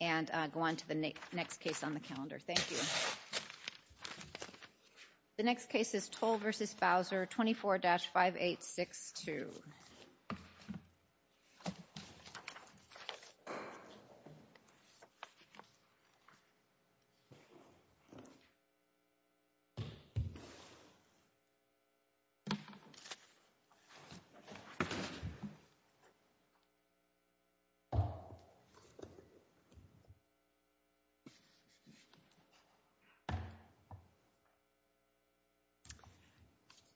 And go on to the next case on the calendar. Thank you. The next case is Tolle v. Bowser, 24-5862.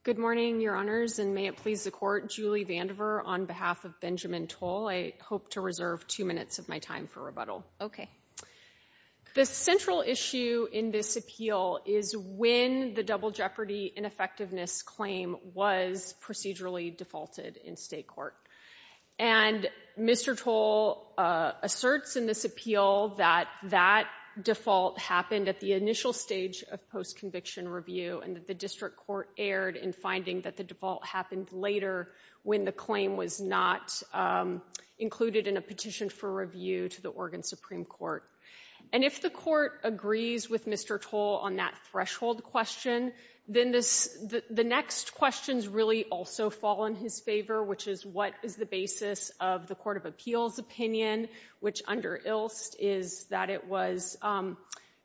Good morning, Your Honors, and may it please the Court, Julie Vandiver on behalf of Benjamin Tolle. I hope to reserve two minutes of my time for rebuttal. Okay. The central issue in this appeal is when the double jeopardy ineffectiveness claim was procedurally defaulted in state court. And Mr. Tolle asserts in this appeal that that default happened at the initial stage of post-conviction review and that the district court erred in finding that the default happened later when the claim was not included in a petition for review to the Oregon Supreme Court. And if the Court agrees with Mr. Tolle on that threshold question, then the next questions really also fall in his favor, which is what is the basis of the Court of Appeals opinion, which under Ilst is that it was,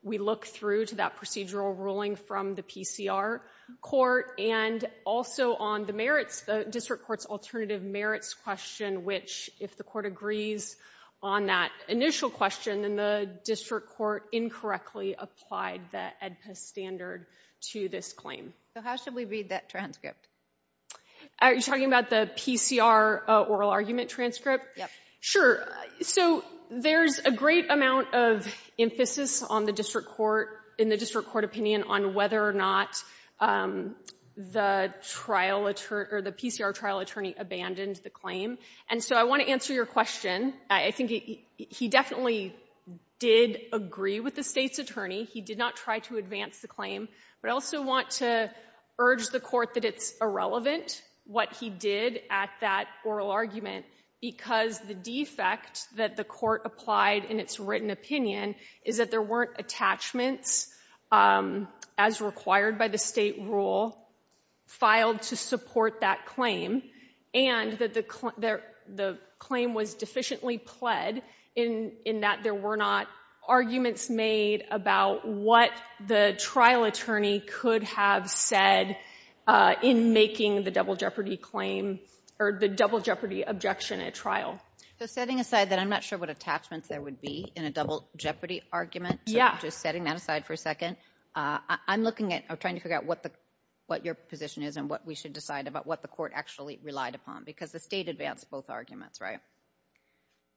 we look through to that procedural ruling from the PCR court and also on the merits, the district court's alternative merits question, which if the Court agrees on that initial question, then the district court incorrectly applied the AEDPA standard to this claim. So how should we read that transcript? Are you talking about the PCR oral argument transcript? Yes. Sure. So there's a great amount of emphasis on the district court, in the district court opinion, on whether or not the trial, or the PCR trial attorney abandoned the claim. And so I want to answer your question. I think he definitely did agree with the state's attorney. He did not try to advance the claim. But I also want to urge the court that it's irrelevant what he did at that oral argument because the defect that the court applied in its written opinion is that there weren't attachments as required by the state rule filed to support that claim. And that the claim was deficiently pled in that there were not arguments made about what the trial attorney could have said in making the double jeopardy claim, or the double jeopardy objection at trial. So setting aside that I'm not sure what attachments there would be in a double jeopardy argument. Yeah. So I'm just setting that aside for a second. I'm looking at, I'm trying to figure out what your position is and what we should decide about what the court actually relied upon because the state advanced both arguments, right?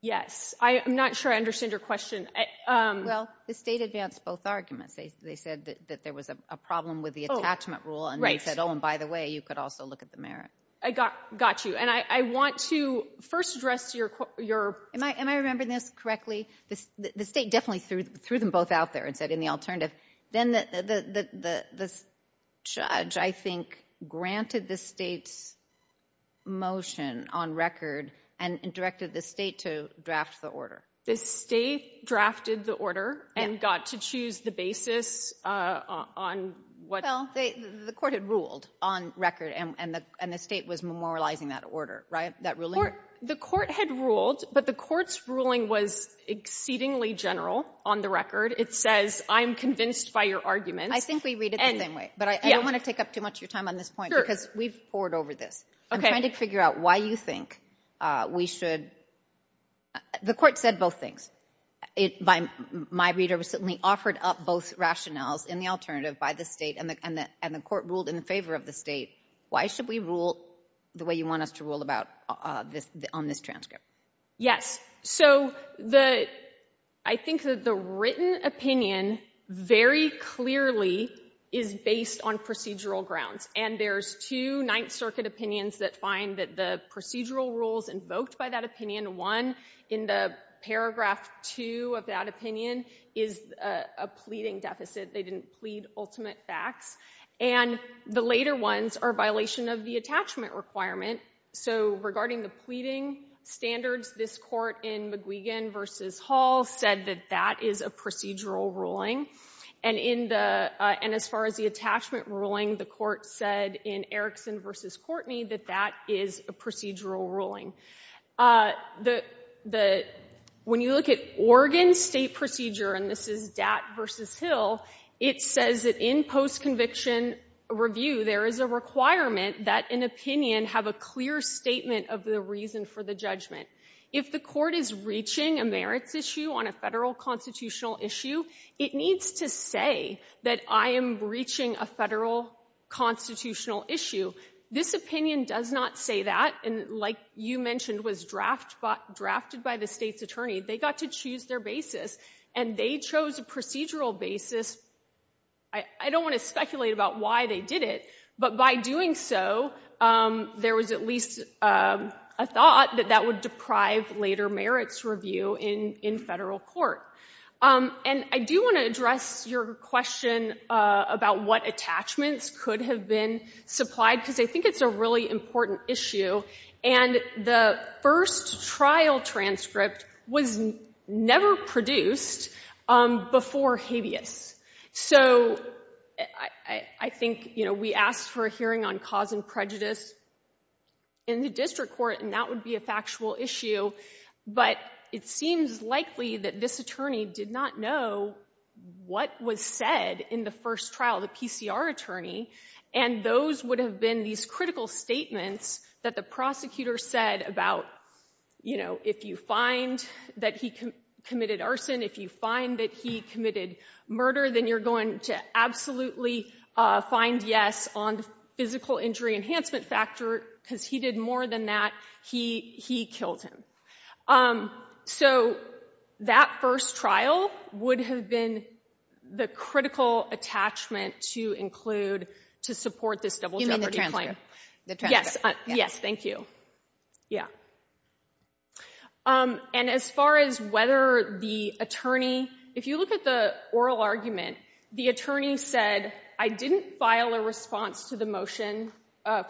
Yes. I'm not sure I understand your question. Well, the state advanced both arguments. They said that there was a problem with the attachment rule and they said, oh, and by the way, you could also look at the merit. I got you. And I want to first address your... Am I remembering this correctly? The state definitely threw them both out there and said in the alternative. Then the judge, I think, granted the state's motion on record and directed the state to draft the order. The state drafted the order and got to choose the basis on what... Well, the court had ruled on record and the state was memorializing that order, right? That ruling? The court had ruled, but the court's ruling was exceedingly general on the record. It says, I'm convinced by your arguments. I think we read it the same way, but I don't want to take up too much of your time on this point because we've poured over this. I'm trying to figure out why you think we should... The court said both things. My reader was certainly offered up both rationales in the alternative by the state and the court ruled in favor of the state. Why should we rule the way you want us to rule about on this transcript? Yes. So I think that the written opinion very clearly is based on procedural grounds. And there's two Ninth Circuit opinions that find that the procedural rules invoked by that opinion. One, in the paragraph two of that opinion, is a pleading deficit. They didn't plead ultimate facts. And the later ones are a violation of the attachment requirement. So regarding the pleading standards, this court in McGuigan versus Hall said that that is a procedural ruling. And as far as the attachment ruling, the court said in Erickson versus Courtney that that is a procedural ruling. When you look at Oregon state procedure, and this is Dat versus Hill, it says that in post-conviction review, there is a requirement that an opinion have a clear statement of the reason for the judgment. If the court is reaching a merits issue on a federal constitutional issue, it needs to say that I am breaching a federal constitutional issue. This opinion does not say that. And like you mentioned, was drafted by the state's attorney. They got to choose their basis. And they chose a procedural basis. I don't want to speculate about why they did it. But by doing so, there was at least a thought that that would deprive later merits review in federal court. And I do want to address your question about what attachments could have been supplied, because I think it's a really important issue. And the first trial transcript was never produced before habeas. So I think, you know, we asked for a hearing on cause and prejudice in the district court, and that would be a factual issue. But it seems likely that this attorney did not know what was said in the first trial, the PCR attorney. And those would have been these critical statements that the prosecutor said about, you know, if you find that he committed arson, if you find that he committed murder, then you're going to absolutely find yes on the physical injury enhancement factor, because he did more than that. He killed him. So that first trial would have been the critical attachment to include, to support this double jeopardy claim. In the transcript. Yes. Yes. Thank you. And as far as whether the attorney, if you look at the oral argument, the attorney said, I didn't file a response to the motion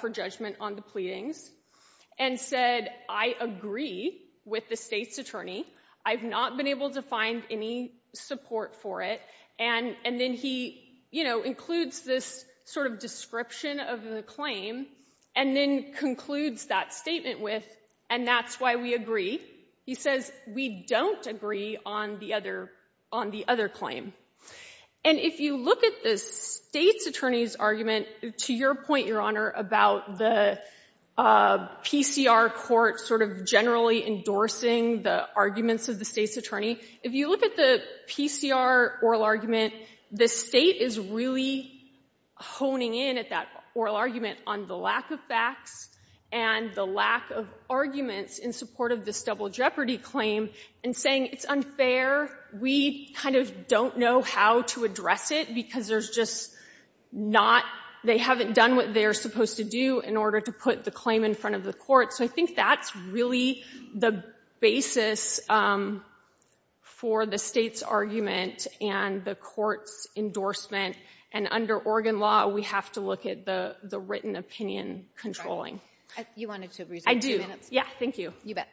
for judgment on the pleadings, and said, I agree with the state's attorney. I've not been able to find any support for it. And then he, you know, includes this sort of description of the claim, and then concludes that statement with, and that's why we agree. He says, we don't agree on the other claim. And if you look at the state's attorney's argument, to your point, Your Honor, about the PCR court sort of generally endorsing the arguments of the state's attorney. If you look at the PCR oral argument, the state is really honing in at that oral argument on the lack of facts, and the lack of arguments in support of this double jeopardy claim, and saying, it's unfair. We kind of don't know how to address it, because there's just not, they haven't done what they're supposed to do in order to put the claim in front of the court. So I think that's really the basis for the state's argument, and the court's endorsement. And under Oregon law, we have to look at the written opinion controlling. You wanted to resume. I do. Yeah, thank you. You bet.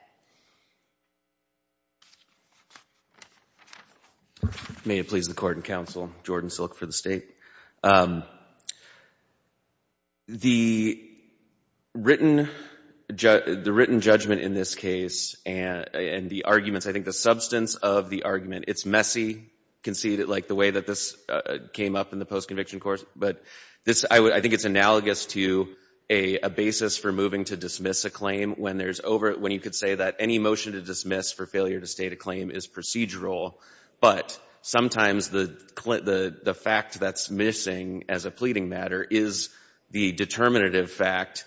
May it please the court and counsel, Jordan Silk for the state. The written judgment in this case, and the arguments, I think the substance of the argument, it's messy, you can see it, like, the way that this came up in the post-conviction course, but I think it's analogous to a basis for moving to dismiss a claim when you could say that any motion to dismiss for failure to state a claim is procedural, but sometimes the fact that's missing as a pleading matter is the determinative fact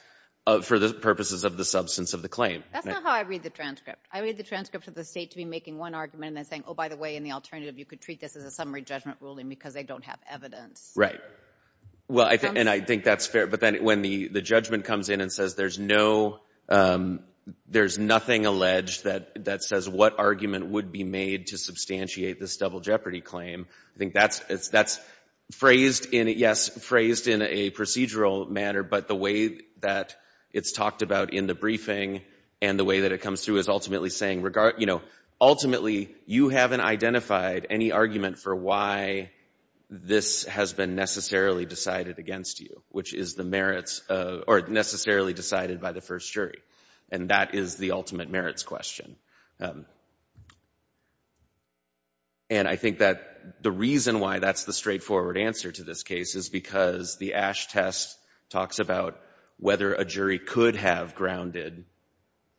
for the purposes of the substance of the claim. That's not how I read the transcript. I read the transcript of the state to be making one argument, and then saying, oh, by the way, in the alternative, you could treat this as a summary judgment ruling, because they don't have evidence. Right. Well, and I think that's fair. But then when the judgment comes in and says there's nothing alleged that says what argument would be made to substantiate this double jeopardy claim, I think that's phrased in it, yes, phrased in a procedural manner, but the way that it's talked about in the briefing and the way that it comes through is ultimately saying, ultimately, you haven't identified any argument for why this has been necessarily decided against you, which is the merits, or necessarily decided by the first jury. And that is the ultimate merits question. And I think that the reason why that's the straightforward answer to this case is because the Ash test talks about whether a jury could have grounded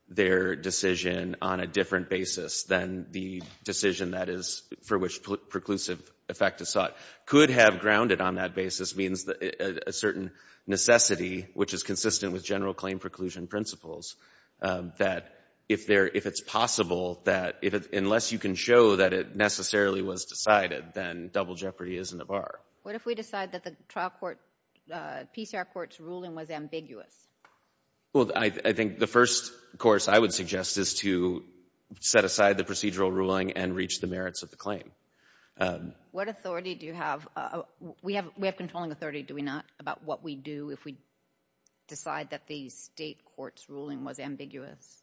their decision on a different basis than the decision that is, for which preclusive effect is sought. Could have grounded on that basis means a certain necessity, which is consistent with general claim preclusion principles, that if it's possible that, unless you can show that it necessarily was decided, then double jeopardy isn't a bar. What if we decide that the trial court, PCR court's ruling was ambiguous? Well, I think the first course I would suggest is to set aside the procedural ruling and reach the merits of the claim. What authority do you have? We have controlling authority, do we not, about what we do if we decide that the state court's ruling was ambiguous?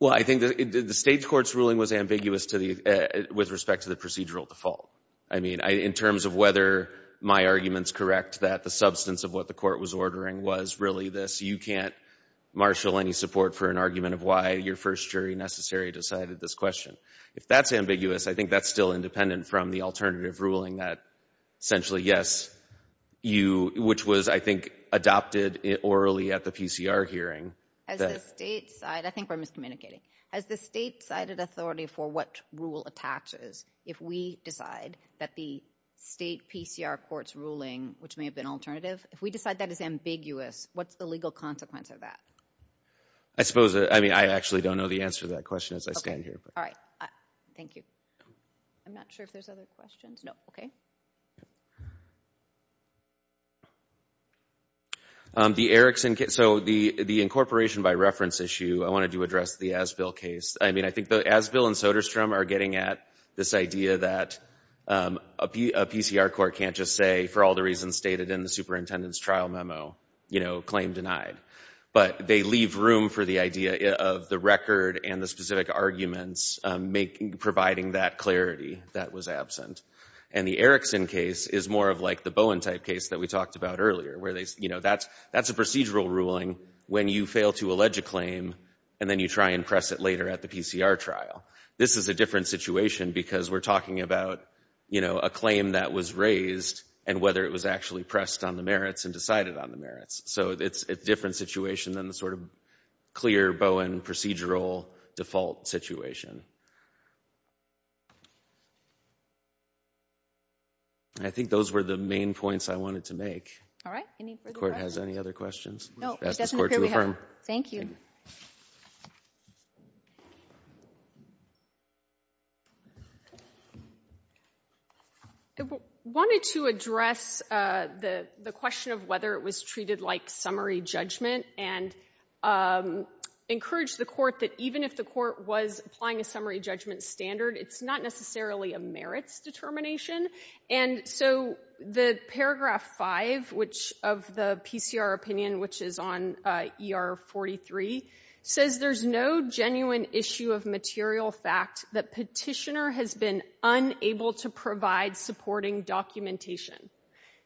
Well, I think that the state court's ruling was ambiguous with respect to the procedural default. I mean, in terms of whether my argument's correct that the substance of what the court was ordering was really this, you can't marshal any support for an argument of why your first jury necessary decided this question. If that's ambiguous, I think that's still independent from the alternative ruling that essentially, yes, you, which was, I think, adopted orally at the PCR hearing. As the state side, I think we're miscommunicating, as the state sided authority for what rule attaches, if we decide that the state PCR court's ruling, which may have been alternative, if we decide that is ambiguous, what's the legal consequence of that? I suppose, I mean, I actually don't know the answer to that question as I stand here. All right. Thank you. I'm not sure if there's other questions. No. Okay. The Erickson case, so the incorporation by reference issue, I wanted to address the Asbill case. I mean, I think the Asbill and Soderstrom are getting at this idea that a PCR court can't just say, for all the reasons stated in the superintendent's trial memo, you know, claim denied. But they leave room for the idea of the record and the specific arguments providing that clarity that was absent. And the Erickson case is more of like the Bowen type case that we talked about earlier, where they, you know, that's a procedural ruling when you fail to allege a claim and then you try and press it later at the PCR trial. This is a different situation because we're talking about, you know, a claim that was raised and whether it was actually pressed on the merits and decided on the merits. So it's a different situation than the sort of clear Bowen procedural default situation. I think those were the main points I wanted to make. All right. Any further questions? The Court has any other questions? No. It doesn't appear we have. I'll ask the Court to affirm. Thank you. I wanted to address the question of whether it was treated like summary judgment and encourage the Court that even if the Court was applying a summary judgment standard, it's not necessarily a merits determination. And so the paragraph 5, which of the PCR opinion, which is on ER 43, says there's no genuine issue of material fact that petitioner has been unable to provide supporting documentation.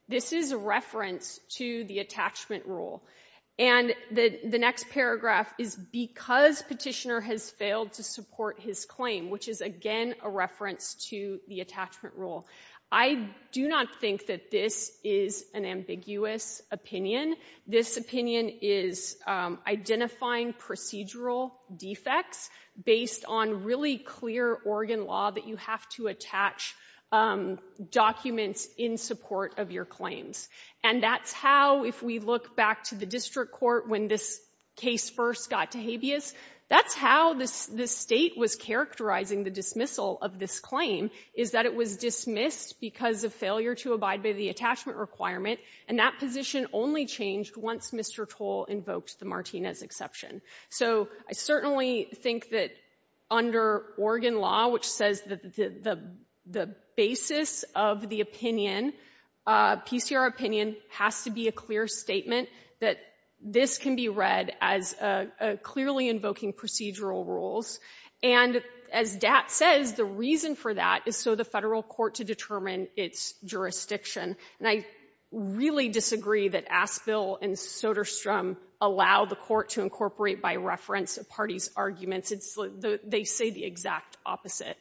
This is a reference to the attachment rule. And the next paragraph is because petitioner has failed to support his claim, which is again a reference to the attachment rule. I do not think that this is an ambiguous opinion. This opinion is identifying procedural defects based on really clear Oregon law that you have to attach documents in support of your claims. And that's how, if we look back to the district court when this case first got to habeas, that's how the State was characterizing the dismissal of this claim, is that it was dismissed because of failure to abide by the attachment requirement. And that position only changed once Mr. Toll invoked the Martinez exception. So I certainly think that under Oregon law, which says the basis of the opinion, PCR opinion, has to be a clear statement that this can be read as clearly invoking procedural rules. And as DAT says, the reason for that is so the federal court to determine its jurisdiction. And I really disagree that Aspill and Soderstrom allow the court to incorporate by reference a party's arguments. They say the exact opposite.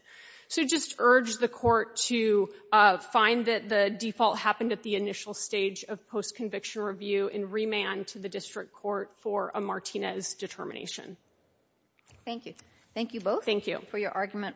So just urge the court to find that the default happened at the initial stage of post-conviction review and remand to the district court for a Martinez determination. Thank you. Thank you both. Thank you. For your argument.